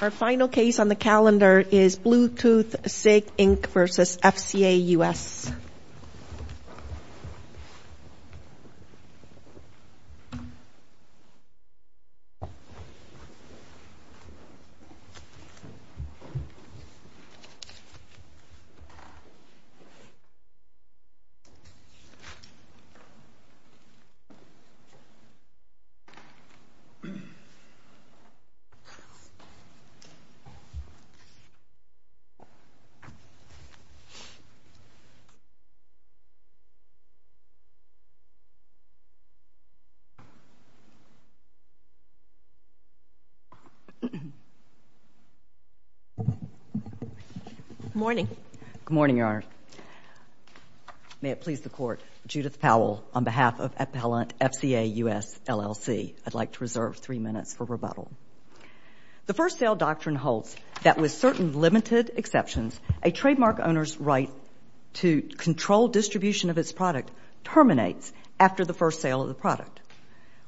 Our final case on the calendar is Bluetooth SIG Inc. v. FCA US. May it please the Court, Judith Powell, on behalf of Appellant FCA US LLC, I'd like to reserve three minutes for rebuttal. The First Sale Doctrine holds that with certain limited exceptions, a trademark owner's right to control distribution of its product terminates after the first sale of the product.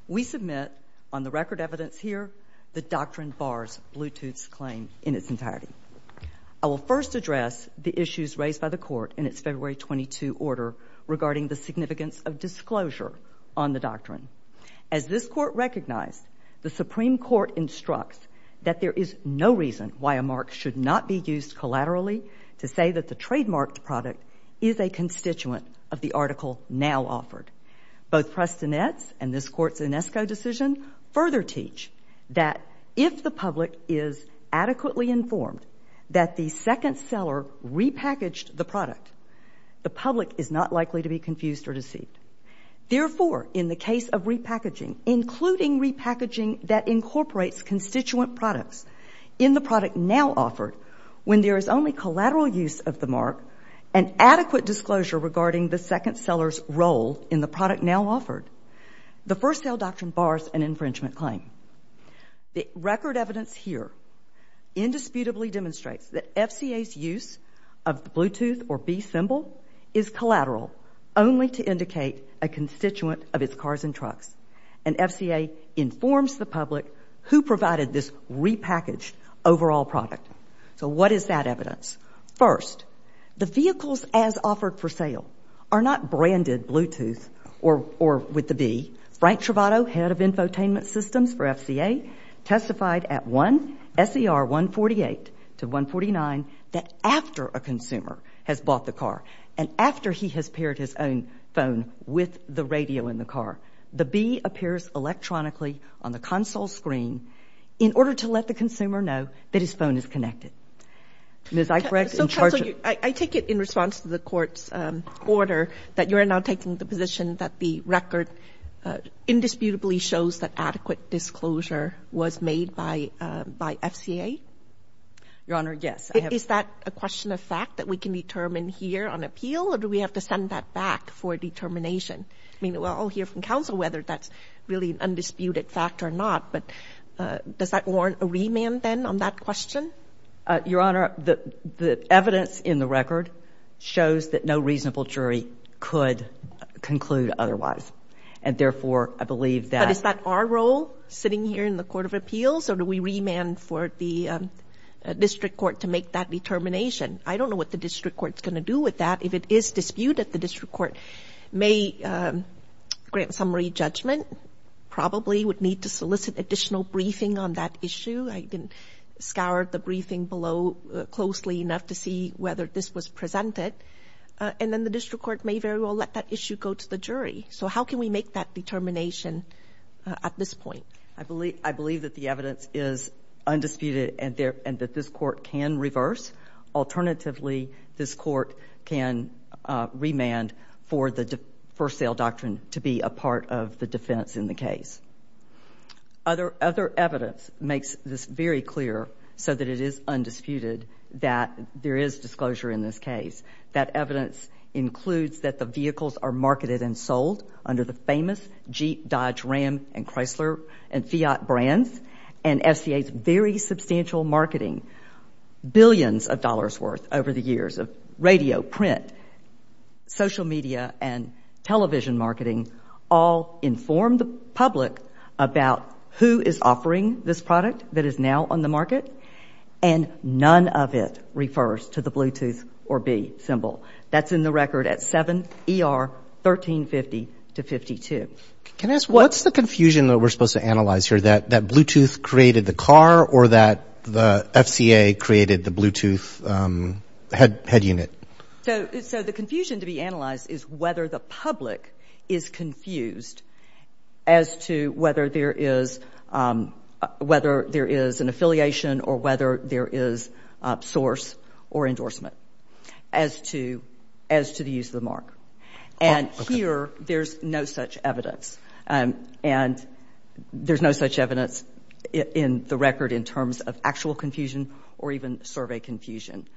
We submit on the record evidence here the Doctrine bars Bluetooth's claim in its entirety. I will first address the issues raised by the Court in its February 22 order regarding the significance of disclosure on the Doctrine. As this Court recognized, the Supreme Court instructs that there is no reason why a mark should not be used collaterally to say that the trademarked product is a constituent of the article now offered. Both Prestonetz and this Court's Inesco decision further teach that if the public is adequately informed that the second seller repackaged the product, the public is not likely to be confused or deceived. Therefore, in the case of repackaging, including repackaging that incorporates constituent products in the product now offered, when there is only collateral use of the mark and adequate disclosure regarding the second seller's role in the product now offered, the First Sale Doctrine bars an infringement claim. The record evidence here indisputably demonstrates that FCA's use of the Bluetooth or B symbol is collateral only to indicate a constituent of its cars and trucks, and FCA informs the public who provided this repackaged overall product. So what is that evidence? First, the vehicles as offered for sale are not branded Bluetooth or with the B. Frank Travato, head of infotainment systems for FCA, testified at one SER 148 to 149 that after a consumer has bought the car and after he has paired his own phone with the radio in the car, the B appears electronically on the console screen in order to let the consumer know that his phone is connected. Ms. Eichrecht, in charge of the Court's order that you are now taking the position that the record indisputably shows that adequate disclosure was made by FCA? Your Honor, yes. Is that a question of fact that we can determine here on appeal, or do we have to send that back for determination? I mean, we'll all hear from counsel whether that's really an undisputed fact or not, but does that warrant a remand then on that question? Your Honor, the evidence in the record shows that no reasonable jury could conclude otherwise, and therefore, I believe that — But is that our role sitting here in the Court of Appeals, or do we remand for the district court to make that determination? I don't know what the district court's going to do with that. If it is disputed, the district court may grant summary judgment, probably would need to solicit additional briefing on that issue. I didn't scour the briefing below closely enough to see whether this was presented. And then the district court may very well let that issue go to the jury. So how can we make that determination at this point? I believe that the evidence is undisputed and that this court can reverse. Alternatively, this court can remand for the first sale doctrine to be a part of the defense in the case. Other evidence makes this very clear so that it is undisputed that there is disclosure in this case. That evidence includes that the vehicles are marketed and sold under the famous Jeep, Dodge, Ram, and Chrysler and Fiat brands, and FCA's very substantial marketing, billions of dollars worth over the years of radio, print, social media, and television marketing all inform the public about who is offering this product that is now on the market, and none of it refers to the Bluetooth or B symbol. That's in the record at 7 ER 1350 to 52. Can I ask, what's the confusion that we're supposed to analyze here, that Bluetooth created the car or that the FCA created the Bluetooth head unit? So the confusion to be analyzed is whether the public is confused as to whether there is an affiliation or whether there is source or endorsement as to the use of the mark. And here, there's no such evidence, and there's no such evidence in the record in terms of actual confusion or even survey confusion.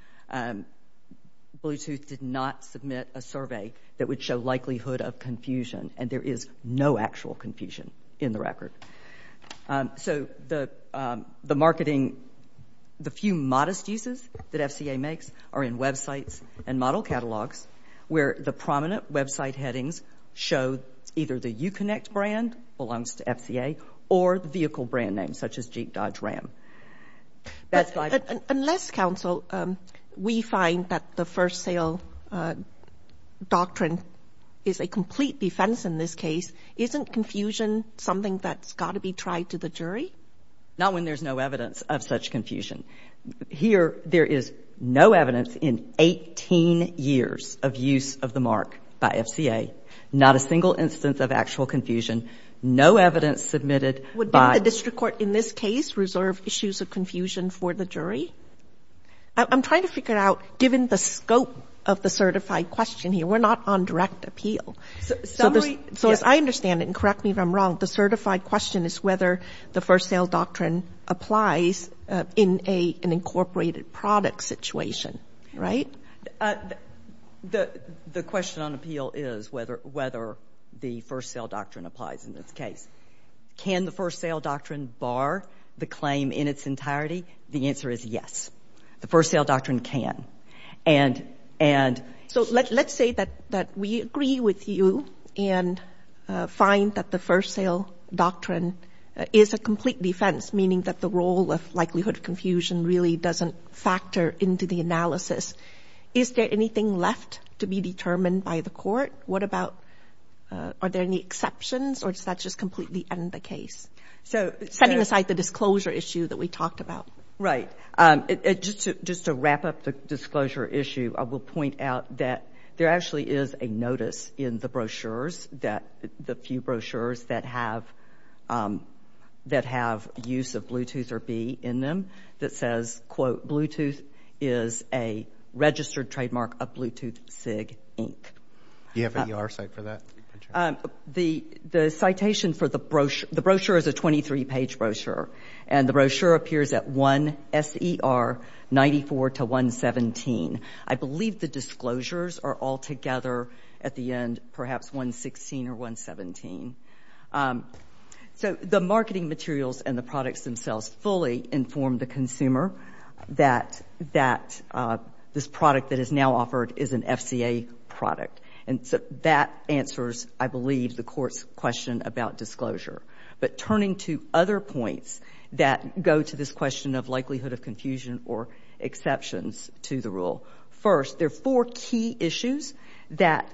Bluetooth did not submit a survey that would show likelihood of confusion, and there is no actual confusion in the record. So the marketing, the few modest uses that FCA makes are in websites and model catalogs where the prominent website headings show either the Uconnect brand, belongs to FCA, or the vehicle brand name, such as Jeep Dodge Ram. Unless counsel, we find that the first sale doctrine is a complete defense in this case, isn't confusion something that's got to be tried to the jury? Not when there's no evidence of such confusion. Here, there is no evidence in 18 years of use of the mark by FCA. Not a single instance of actual confusion. No evidence submitted by... Would the district court in this case reserve issues of confusion for the jury? I'm trying to figure out, given the scope of the certified question here, we're not on direct appeal. Summary... So as I understand it, and correct me if I'm wrong, the certified question is whether the FCA, an incorporated product situation, right? The question on appeal is whether the first sale doctrine applies in this case. Can the first sale doctrine bar the claim in its entirety? The answer is yes. The first sale doctrine can. So let's say that we agree with you and find that the first sale doctrine is a complete defense, meaning that the role of likelihood of confusion really doesn't factor into the analysis. Is there anything left to be determined by the court? What about... Are there any exceptions, or does that just completely end the case? So setting aside the disclosure issue that we talked about. Right. Just to wrap up the disclosure issue, I will point out that there actually is a notice in the brochures, the few brochures that have use of Bluetooth or B in them, that says, quote, Bluetooth is a registered trademark of Bluetooth SIG, Inc. Do you have an ER site for that? The citation for the brochure, the brochure is a 23-page brochure, and the brochure appears at 1 S.E.R. 94 to 117. I believe the disclosures are all together at the end, perhaps 116 or 117. So the marketing materials and the products themselves fully inform the consumer that this product that is now offered is an FCA product. And so that answers, I believe, the court's question about disclosure. But turning to other points that go to this question of likelihood of confusion or exceptions to the rule. First, there are four key issues that,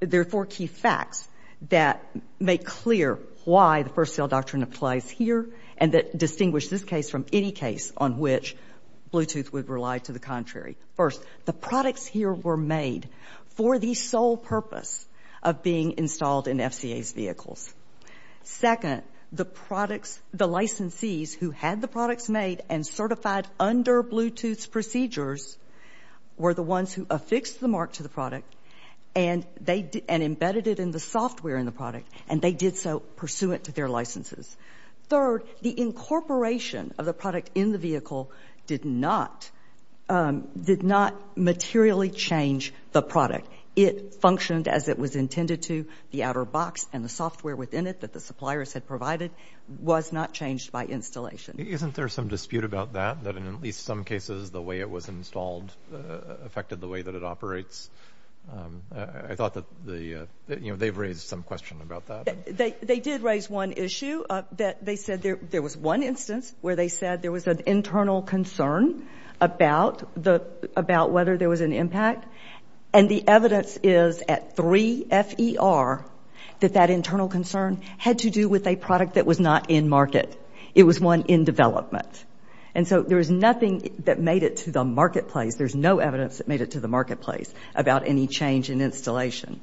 there are four key facts that make clear why the first sale doctrine applies here and that distinguish this case from any case on which Bluetooth would rely to the contrary. First, the products here were made for the sole purpose of being installed in FCA's vehicles. Second, the products, the licensees who had the products made and certified under Bluetooth's procedures were the ones who affixed the mark to the product and they, and embedded it in the software in the product, and they did so pursuant to their licenses. Third, the incorporation of the product in the vehicle did not, did not materially change the product. It functioned as it was intended to. The outer box and the software within it that the suppliers had provided was not changed by installation. Isn't there some dispute about that, that in at least some cases the way it was installed affected the way that it operates? I thought that the, you know, they've raised some question about that. They did raise one issue that they said there was one instance where they said there was an internal concern about the, about whether there was an impact. And the evidence is at 3 FER that that internal concern had to do with a product that was not in market. It was one in development. And so there is nothing that made it to the marketplace, there's no evidence that made it to the marketplace about any change in installation.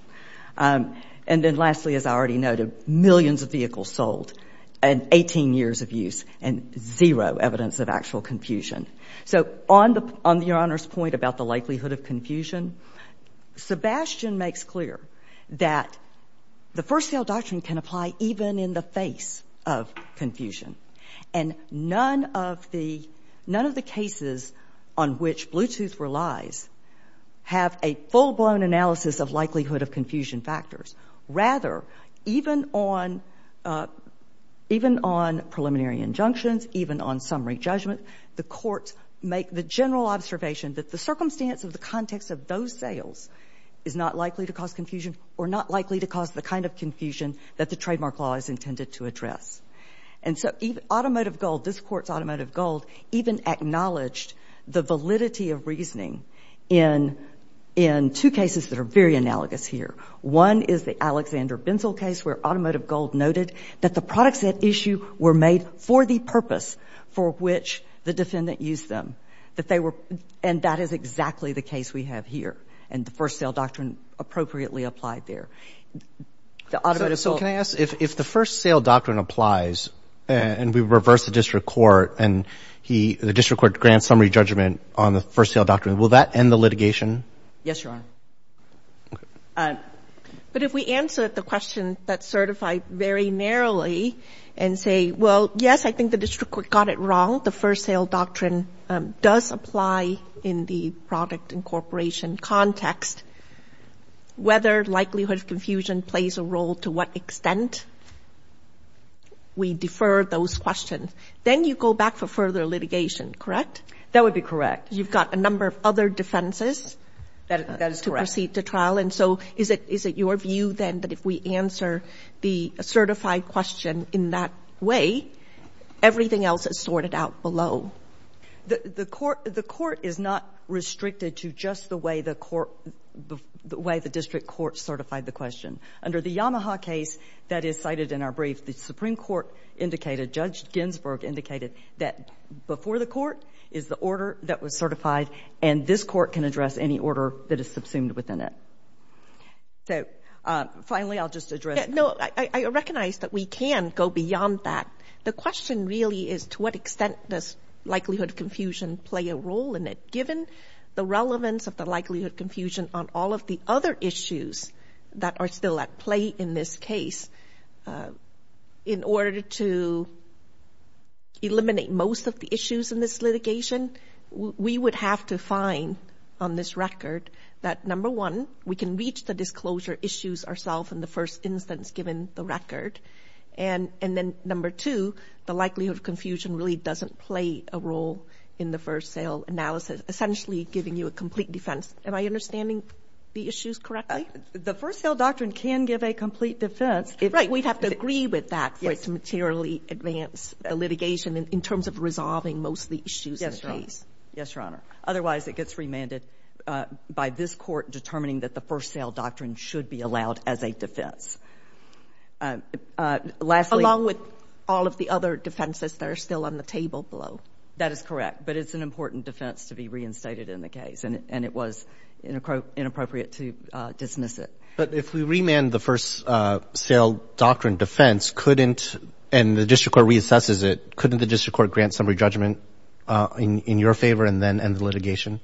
And then lastly, as I already noted, millions of vehicles sold and 18 years of use and zero evidence of actual confusion. So on the, on Your Honor's point about the likelihood of confusion, Sebastian makes clear that the first sale doctrine can apply even in the face of confusion. And none of the, none of the cases on which Bluetooth relies have a full-blown analysis of likelihood of confusion factors. Rather, even on, even on preliminary injunctions, even on summary judgment, the courts make the general observation that the circumstance of the context of those sales is not likely to cause confusion or not likely to cause the kind of confusion that the trademark law is intended to address. And so automotive gold, this Court's automotive gold even acknowledged the validity of reasoning in two cases that are very analogous here. One is the Alexander Binzel case where automotive gold noted that the products at issue were made for the purpose for which the defendant used them. That they were, and that is exactly the case we have here. And the first sale doctrine appropriately applied there. The automotive gold. So can I ask, if the first sale doctrine applies and we reverse the district court and he, the district court grants summary judgment on the first sale doctrine, will that end the litigation? Yes, Your Honor. Okay. All right. But if we answer the question that's certified very narrowly and say, well, yes, I think the district court got it wrong. The first sale doctrine does apply in the product incorporation context. Whether likelihood of confusion plays a role to what extent, we defer those questions. Then you go back for further litigation, correct? That would be correct. You've got a number of other defenses. That is correct. To proceed to trial. And so is it your view then that if we answer the certified question in that way, everything else is sorted out below? The court is not restricted to just the way the court, the way the district court certified the question. Under the Yamaha case that is cited in our brief, the Supreme Court indicated, Judge Ginsburg indicated, that before the court is the order that was certified, and this is any order that is subsumed within it. So, finally, I'll just address. No, I recognize that we can go beyond that. The question really is to what extent does likelihood of confusion play a role in it? Given the relevance of the likelihood of confusion on all of the other issues that are still at play in this case, in order to eliminate most of the issues in this litigation, we would have to find on this record that, number one, we can reach the disclosure issues ourself in the first instance given the record, and then, number two, the likelihood of confusion really doesn't play a role in the first sale analysis, essentially giving you a complete defense. Am I understanding the issues correctly? The first sale doctrine can give a complete defense. Right. We'd have to agree with that for it to materially advance the litigation in terms of resolving most of the issues in the case. Yes, Your Honor. Otherwise, it gets remanded by this Court determining that the first sale doctrine should be allowed as a defense. Lastly — Along with all of the other defenses that are still on the table below. That is correct. But it's an important defense to be reinstated in the case, and it was inappropriate to dismiss it. Couldn't the district court grant some re-judgment in your favor and then end the litigation?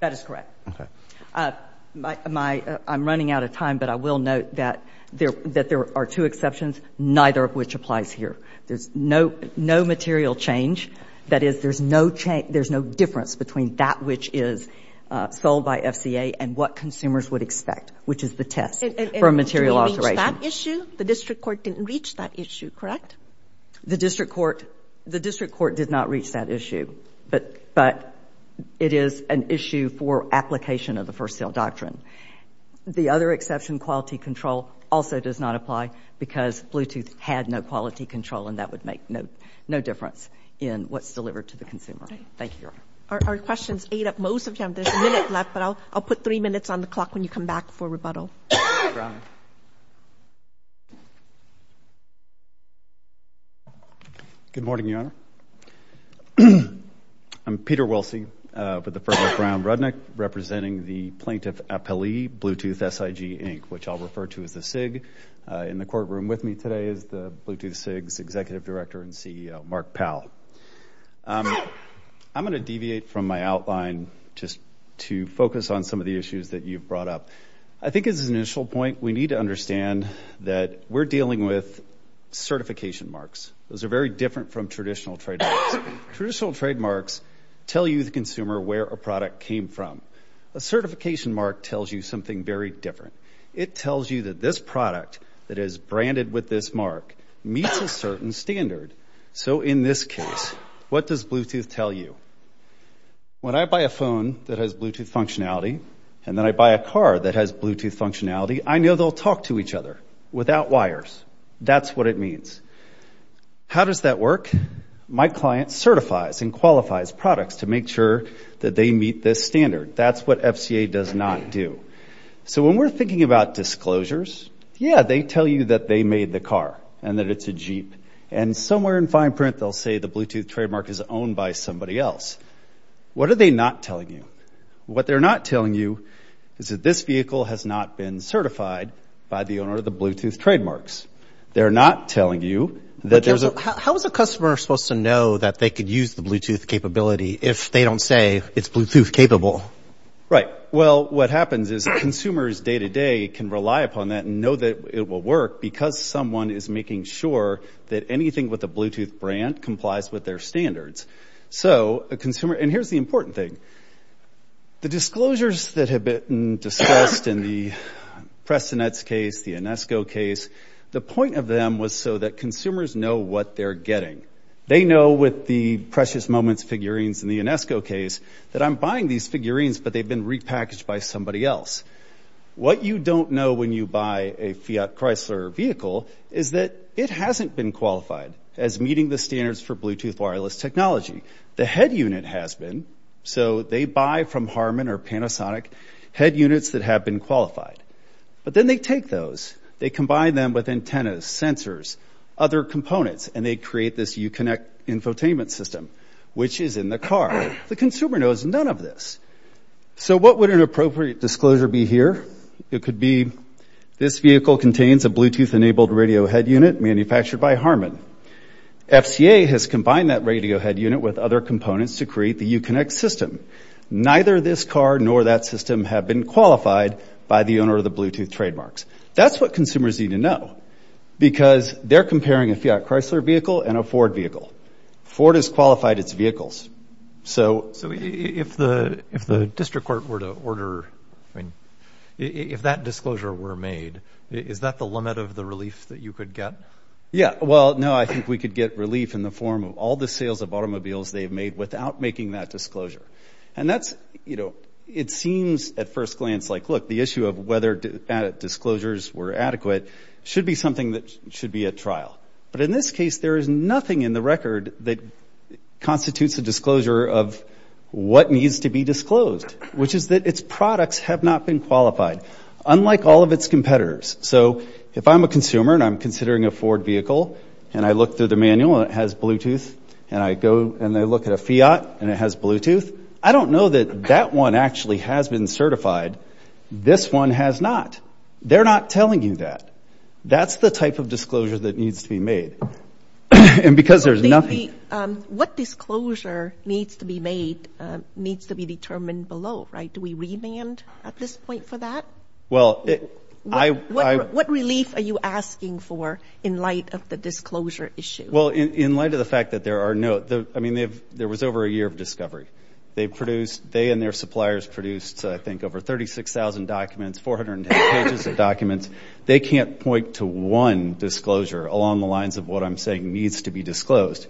That is correct. Okay. I'm running out of time, but I will note that there are two exceptions, neither of which applies here. There's no material change. That is, there's no difference between that which is sold by FCA and what consumers would expect, which is the test for a material alteration. The district court didn't reach that issue, correct? The district court did not reach that issue, but it is an issue for application of the first sale doctrine. The other exception, quality control, also does not apply because Bluetooth had no quality control, and that would make no difference in what's delivered to the consumer. Thank you, Your Honor. Our questions ate up most of them. There's a minute left, but I'll put three minutes on the clock when you come back for rebuttal. Mr. Brown. Good morning, Your Honor. I'm Peter Wilsey with the firm of Brown Rudnick, representing the plaintiff appellee, Bluetooth SIG, Inc., which I'll refer to as the SIG. In the courtroom with me today is the Bluetooth SIG's executive director and CEO, Mark Powell. I'm going to deviate from my outline just to focus on some of the issues that you've brought up. I think as an initial point, we need to understand that we're dealing with certification marks. Those are very different from traditional trademarks. Traditional trademarks tell you, the consumer, where a product came from. A certification mark tells you something very different. It tells you that this product that is branded with this mark meets a certain standard. So in this case, what does Bluetooth tell you? When I buy a phone that has Bluetooth functionality, and then I buy a car that has Bluetooth functionality, I know they'll talk to each other without wires. That's what it means. How does that work? My client certifies and qualifies products to make sure that they meet this standard. That's what FCA does not do. So when we're thinking about disclosures, yeah, they tell you that they made the car and that it's a Jeep. And somewhere in fine print, they'll say the Bluetooth trademark is owned by somebody else. What are they not telling you? What they're not telling you is that this vehicle has not been certified by the owner of the Bluetooth trademarks. They're not telling you that there's a... How is a customer supposed to know that they could use the Bluetooth capability if they don't say it's Bluetooth capable? Right. Well, what happens is consumers day to day can rely upon that and know that it will work because someone is making sure that anything with a Bluetooth brand complies with their standards. So a consumer... And here's the important thing. The disclosures that have been discussed in the Prestonettes case, the Inesco case, the point of them was so that consumers know what they're getting. They know with the Precious Moments figurines in the Inesco case that I'm buying these figurines, but they've been repackaged by somebody else. What you don't know when you buy a Fiat Chrysler vehicle is that it hasn't been qualified as meeting the standards for Bluetooth wireless technology. The head unit has been, so they buy from Harman or Panasonic head units that have been qualified. But then they take those, they combine them with antennas, sensors, other components, and they create this Uconnect infotainment system, which is in the car. The consumer knows none of this. So what would an appropriate disclosure be here? It could be this vehicle contains a Bluetooth-enabled radio head unit manufactured by Harman. FCA has combined that radio head unit with other components to create the Uconnect system. Neither this car nor that system have been qualified by the owner of the Bluetooth trademarks. That's what consumers need to know because they're comparing a Fiat Chrysler vehicle and a Ford vehicle. Ford has qualified its vehicles. So if the district court were to order, I mean, if that disclosure were made, is that the limit of the relief that you could get? Yeah. Well, no, I think we could get relief in the form of all the sales of automobiles they've made without making that disclosure. And that's, you know, it seems at first glance like, look, the issue of whether disclosures were adequate should be something that should be at trial. But in this case, there is nothing in the record that constitutes a disclosure of what needs to be disclosed, which is that its products have not been qualified, unlike all of its competitors. So if I'm a consumer and I'm considering a Ford vehicle and I look through the manual and it has Bluetooth and I go and I look at a Fiat and it has Bluetooth, I don't know that that one actually has been certified. This one has not. They're not telling you that. That's the type of disclosure that needs to be made. And because there's nothing... What disclosure needs to be made, needs to be determined below, right? Do we remand at this point for that? Well, I... What relief are you asking for in light of the disclosure issue? Well, in light of the fact that there are no, I mean, there was over a year of discovery. They produced, they and their suppliers produced, I think, over 36,000 documents, 410 pages of documents. They can't point to one disclosure along the lines of what I'm saying needs to be disclosed.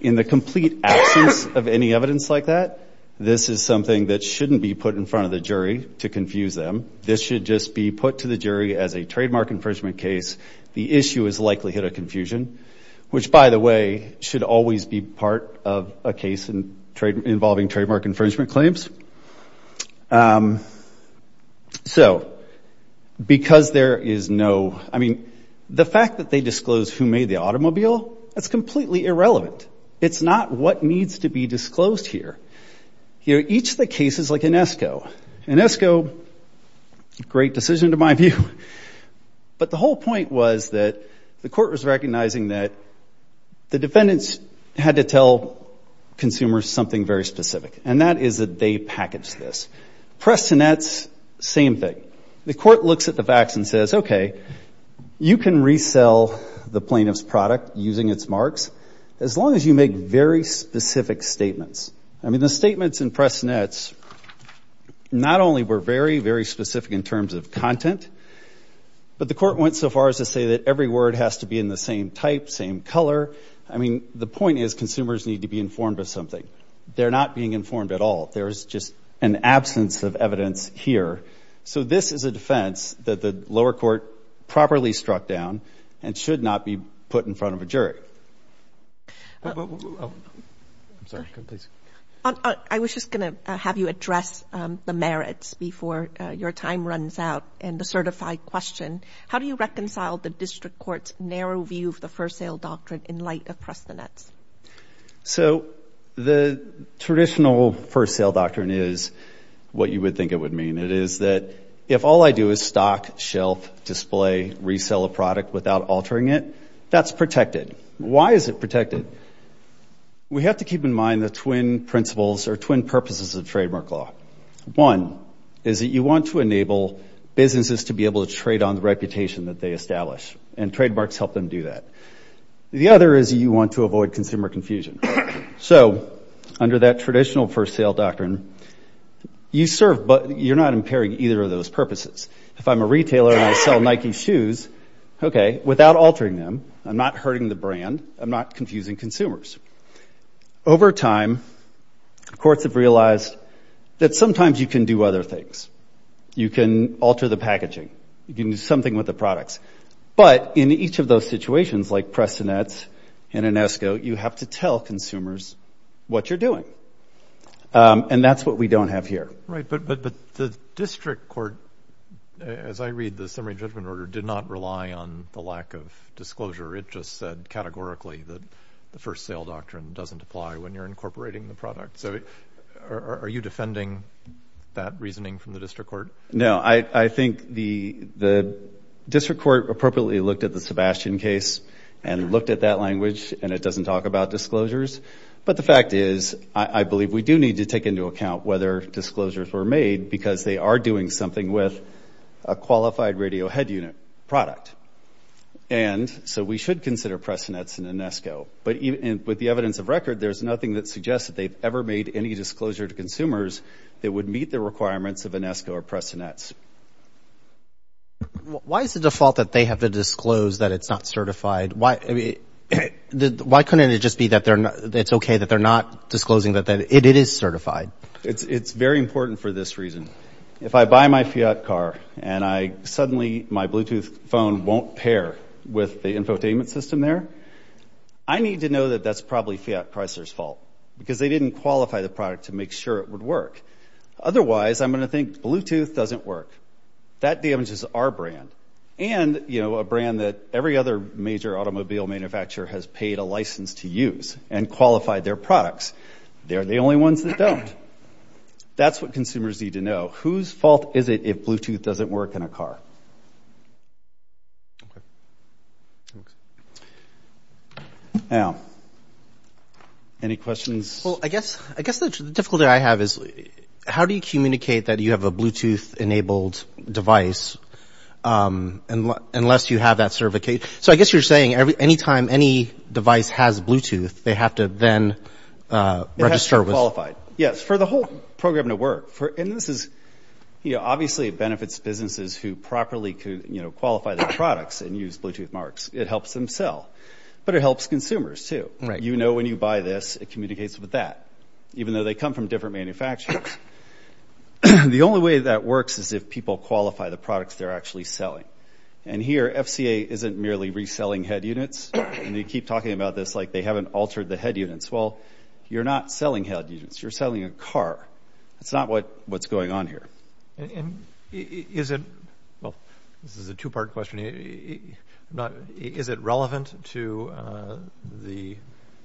In the complete absence of any evidence like that, this is something that shouldn't be put in front of the jury to confuse them. This should just be put to the jury as a trademark infringement case. The issue has likely hit a confusion, which, by the way, should always be part of a case involving trademark infringement claims. So, because there is no, I mean, the fact that they disclosed who made the automobile, that's completely irrelevant. It's not what needs to be disclosed here. Here, each of the cases, like Inesco, Inesco, great decision to my view, but the whole point was that the court was recognizing that the defendants had to tell consumers something very specific, and that is that they package this. Press nets, same thing. The court looks at the facts and says, okay, you can resell the plaintiff's product using its marks as long as you make very specific statements. I mean, the statements in press nets not only were very, very specific in terms of content, but the court went so far as to say that every word has to be in the same type, same color. I mean, the point is, consumers need to be informed of something. They're not being informed at all. There's just an absence of evidence here. So this is a defense that the lower court properly struck down and should not be put in front of a jury. I was just going to have you address the merits before your time runs out and the certified question. How do you reconcile the district court's narrow view of the first sale doctrine in light of press the nets? So the traditional first sale doctrine is what you would think it would mean. It is that if all I do is stock, shelf, display, resell a product without altering it, that's protected. Why is it protected? We have to keep in mind the twin principles or twin purposes of trademark law. One is that you want to enable businesses to be able to trade on the reputation that they establish, and trademarks help them do that. The other is you want to avoid consumer confusion. So under that traditional first sale doctrine, you serve, but you're not impairing either of those purposes. If I'm a retailer and I sell Nike shoes, okay, without altering them, I'm not hurting the brand, I'm not confusing consumers. Over time, courts have realized that sometimes you can do other things. You can alter the packaging, you can do something with the products, but in each of those situations like press the nets and an escrow, you have to tell consumers what you're doing, and that's what we don't have here. Right, but the district court, as I read the summary judgment order, did not rely on the lack of disclosure. It just said categorically that the first sale doctrine doesn't apply when you're incorporating the product. So are you defending that reasoning from the district court? No, I think the district court appropriately looked at the Sebastian case and looked at that language, and it doesn't talk about disclosures, but the fact is I believe we do need to take into account whether disclosures were made because they are doing something with a qualified radio head unit product. And so we should consider press the nets and an escrow, but with the evidence of record, there's nothing that suggests that they've ever made any disclosure to consumers that would meet the requirements of an escrow or press the nets. Why is the default that they have to disclose that it's not certified? Why couldn't it just be that it's okay that they're not disclosing that it is certified? It's very important for this reason. If I buy my Fiat car and suddenly my Bluetooth phone won't pair with the infotainment system there, I need to know that that's probably Fiat Chrysler's fault because they didn't qualify the product to make sure it would work. Otherwise, I'm going to think Bluetooth doesn't work. That damages our brand and a brand that every other major automobile manufacturer has paid a license to use and qualified their products. They're the only ones that don't. And that's what consumers need to know. Whose fault is it if Bluetooth doesn't work in a car? Okay. Thanks. Any questions? Well, I guess the difficulty I have is how do you communicate that you have a Bluetooth enabled device unless you have that certification? So I guess you're saying any time any device has Bluetooth, they have to then register with... Qualified. Yes. For the whole program to work. And this is... Obviously, it benefits businesses who properly qualify their products and use Bluetooth marks. It helps them sell. But it helps consumers too. You know when you buy this, it communicates with that. Even though they come from different manufacturers. The only way that works is if people qualify the products they're actually selling. And here, FCA isn't merely reselling head units. And they keep talking about this like they haven't altered the head units. Well, you're not selling head units. You're selling a car. It's not what's going on here. Is it... Well, this is a two-part question. Is it relevant to the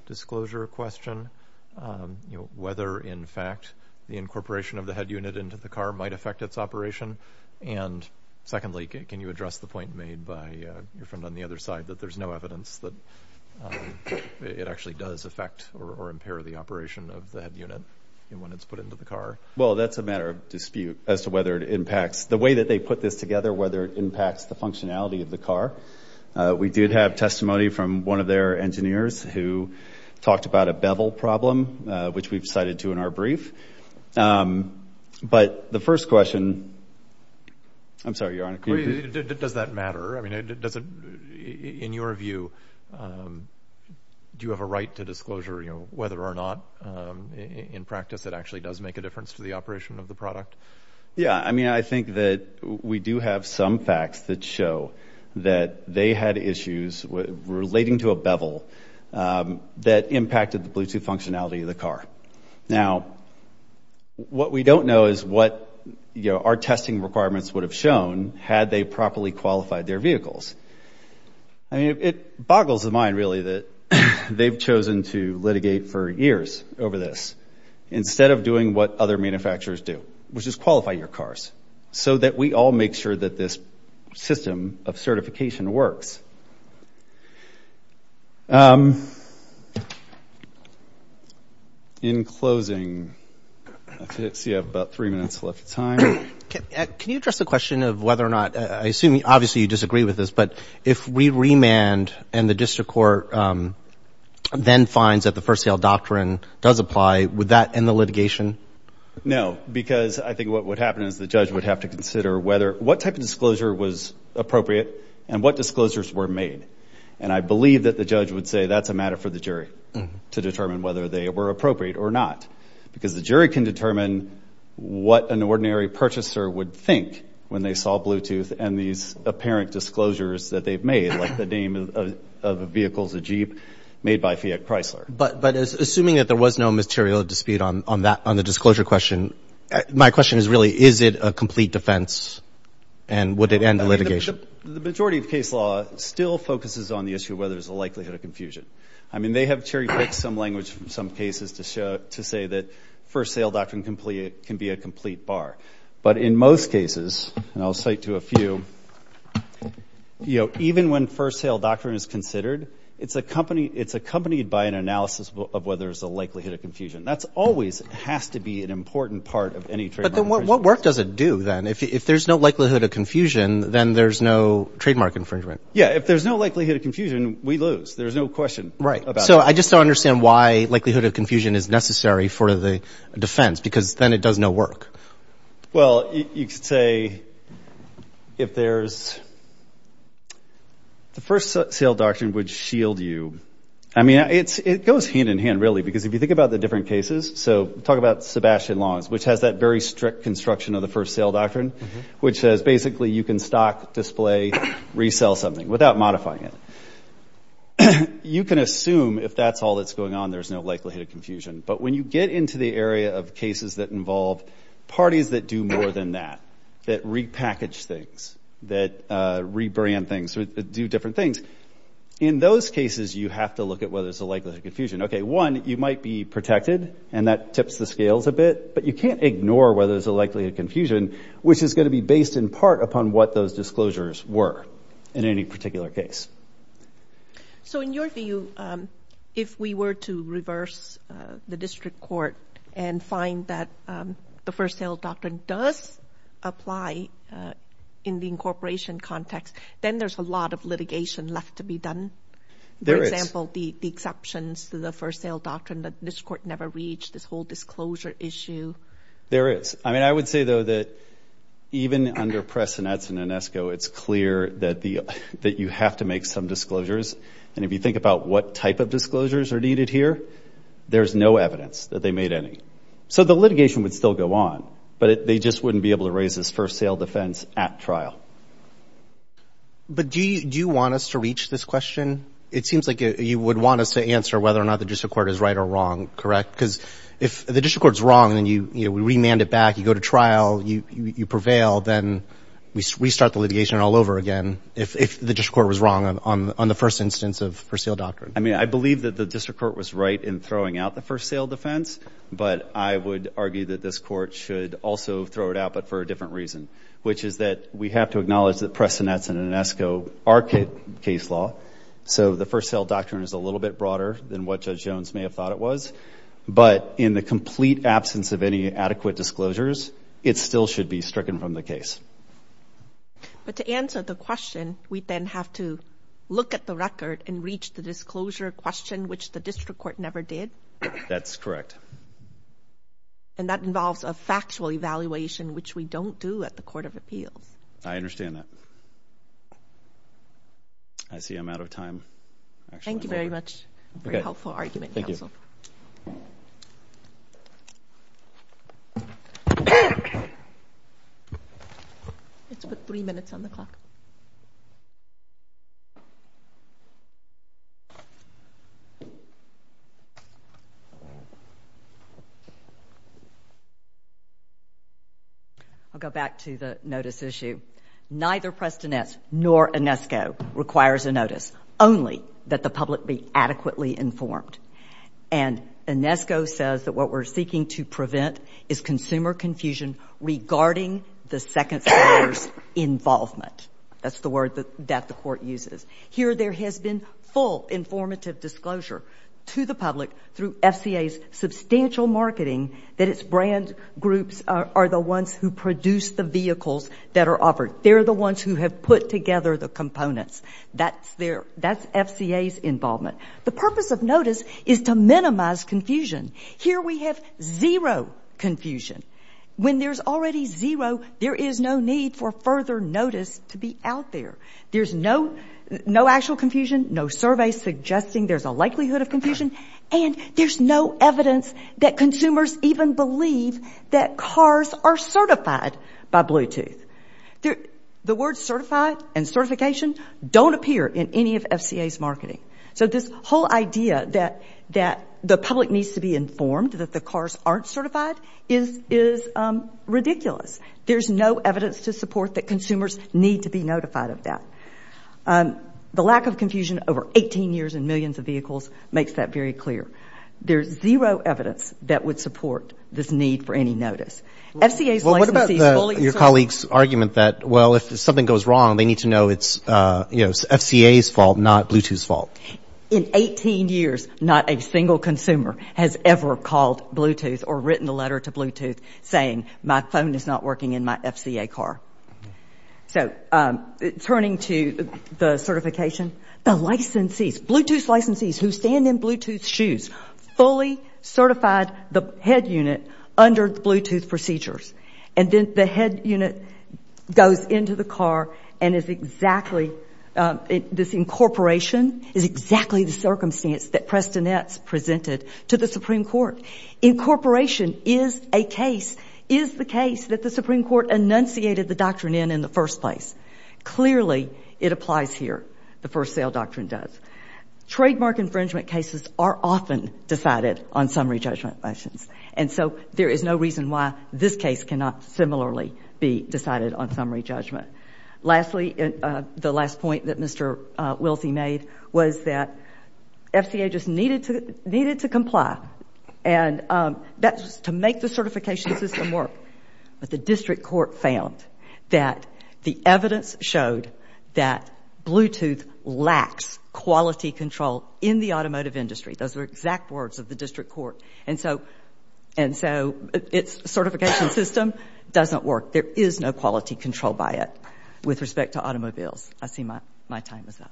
disclosure question? Whether in fact the incorporation of the head unit into the car might affect its operation? And secondly, can you address the point made by your friend on the other side that there's no evidence that it actually does affect or impair the operation of the head unit when it's put into the car? Well, that's a matter of dispute as to whether it impacts... The way that they put this together, whether it impacts the functionality of the car. We did have testimony from one of their engineers who talked about a bevel problem, which we've cited to in our brief. But the first question... I'm sorry, Your Honor. Does that matter? I mean, in your view, do you have a right to disclosure whether or not in practice it actually does make a difference to the operation of the product? Yeah. I mean, I think that we do have some facts that show that they had issues relating to a bevel that impacted the Bluetooth functionality of the car. Now, what we don't know is what our testing requirements would have shown had they properly qualified their vehicles. It boggles the mind, really, that they've chosen to litigate for years over this instead of doing what other manufacturers do, which is qualify your cars, so that we all make sure that this system of certification works. In closing... I see I have about three minutes left of time. Can you address the question of whether or not... I assume, obviously, you disagree with this, but if we remand and the district court then finds that the first sale doctrine does apply, would that end the litigation? No, because I think what would happen is the judge would have to consider what type of disclosure was appropriate and what disclosures were made. And I believe that the judge would say that's a matter for the jury to determine whether they were appropriate or not. Because the jury can determine what an ordinary purchaser would think when they saw Bluetooth and these apparent disclosures that they've made, like the name of a vehicle's a Jeep made by Fiat Chrysler. But assuming that there was no material dispute on the disclosure question, my question is really, is it a complete defense and would it end the litigation? The majority of case law still focuses on the issue of whether there's a likelihood of confusion. I mean, they have cherry-picked some language from some cases to say that first sale doctrine can be a complete bar. But in most cases, and I'll cite to a few, even when first sale doctrine is considered, it's accompanied by an analysis of whether there's a likelihood of confusion. That's always has to be an important part of any trademark infringement. What work does it do then? If there's no likelihood of confusion, then there's no trademark infringement. Yeah. If there's no likelihood of confusion, we lose. There's no question about that. Right. So I just don't understand why likelihood of confusion is necessary for the defense because then it does no work. Well, you could say if there's... The first sale doctrine would shield you. I mean, it goes hand in hand, really, because if you think about the different cases, so talk about Sebastian Long's, which has that very strict construction of the first sale you can assume if that's all that's going on, there's no likelihood of confusion. But when you get into the area of cases that involve parties that do more than that, that repackage things, that rebrand things, do different things. In those cases, you have to look at whether there's a likelihood of confusion. Okay. One, you might be protected and that tips the scales a bit, but you can't ignore whether there's a likelihood of confusion, which is going to be based in part upon what those disclosures were in any particular case. So in your view, if we were to reverse the district court and find that the first sale doctrine does apply in the incorporation context, then there's a lot of litigation left to be done. There is. For example, the exceptions to the first sale doctrine that this court never reached, this whole disclosure issue. There is. I mean, I would say, though, that even under Pressonetz and Inesco, it's clear that you have to make some disclosures. And if you think about what type of disclosures are needed here, there's no evidence that they made any. So the litigation would still go on, but they just wouldn't be able to raise this first sale defense at trial. But do you want us to reach this question? It seems like you would want us to answer whether or not the district court is right or wrong. Correct? Because if the district court's wrong, then we remand it back, you go to trial, you prevail, then we restart the litigation all over again if the district court was wrong on the first instance of first sale doctrine. I mean, I believe that the district court was right in throwing out the first sale defense, but I would argue that this court should also throw it out, but for a different reason, which is that we have to acknowledge that Pressonetz and Inesco are case law. So the first sale doctrine is a little bit broader than what Judge Jones may have thought it was. But in the complete absence of any adequate disclosures, it still should be stricken from the case. But to answer the question, we then have to look at the record and reach the disclosure question, which the district court never did? That's correct. And that involves a factual evaluation, which we don't do at the Court of Appeals. I understand that. I see I'm out of time. Thank you very much. Very helpful argument, counsel. Thank you. I'll go back to the notice issue. Neither Pressonetz nor Inesco requires a notice. Only that the public be adequately informed. And Inesco says that what we're seeking to prevent is consumer confusion regarding the second seller's involvement. That's the word that the court uses. Here there has been full informative disclosure to the public through FCA's substantial marketing that its brand groups are the ones who produce the vehicles that are offered. They're the ones who have put together the components. That's FCA's involvement. The purpose of notice is to minimize confusion. Here we have zero confusion. When there's already zero, there is no need for further notice to be out there. There's no actual confusion, no survey suggesting there's a likelihood of confusion, and there's no evidence that consumers even believe that cars are certified by Bluetooth. The words certified and certification don't appear in any of FCA's marketing. So this whole idea that the public needs to be informed that the cars aren't certified is ridiculous. There's no evidence to support that consumers need to be notified of that. The lack of confusion over 18 years in millions of vehicles makes that very clear. There's zero evidence that would support this need for any notice. FCA's licensees fully... Well, what about your colleague's argument that, well, if something goes wrong, they In 18 years, not a single consumer has ever called Bluetooth or written a letter to Bluetooth saying my phone is not working in my FCA car. So turning to the certification, the licensees, Bluetooth licensees who stand in Bluetooth shoes fully certified the head unit under the Bluetooth procedures. And then the head unit goes into the car and is exactly... This incorporation is exactly the circumstance that Preston Etz presented to the Supreme Court. Incorporation is a case, is the case that the Supreme Court enunciated the doctrine in in the first place. Clearly, it applies here. The first sale doctrine does. Trademark infringement cases are often decided on summary judgment questions. And so there is no reason why this case cannot similarly be decided on summary judgment. Lastly, the last point that Mr. Wilsey made was that FCA just needed to comply. And that's to make the certification system work. But the district court found that the evidence showed that Bluetooth lacks quality control in the automotive industry. Those were exact words of the district court. And so its certification system doesn't work. There is no quality control by it with respect to automobiles. I see my time is up.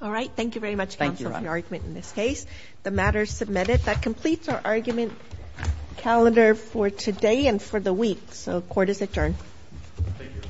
All right. Thank you very much counsel for your argument in this case. The matter is submitted. That completes our argument calendar for today and for the week. So court is adjourned. Thank you.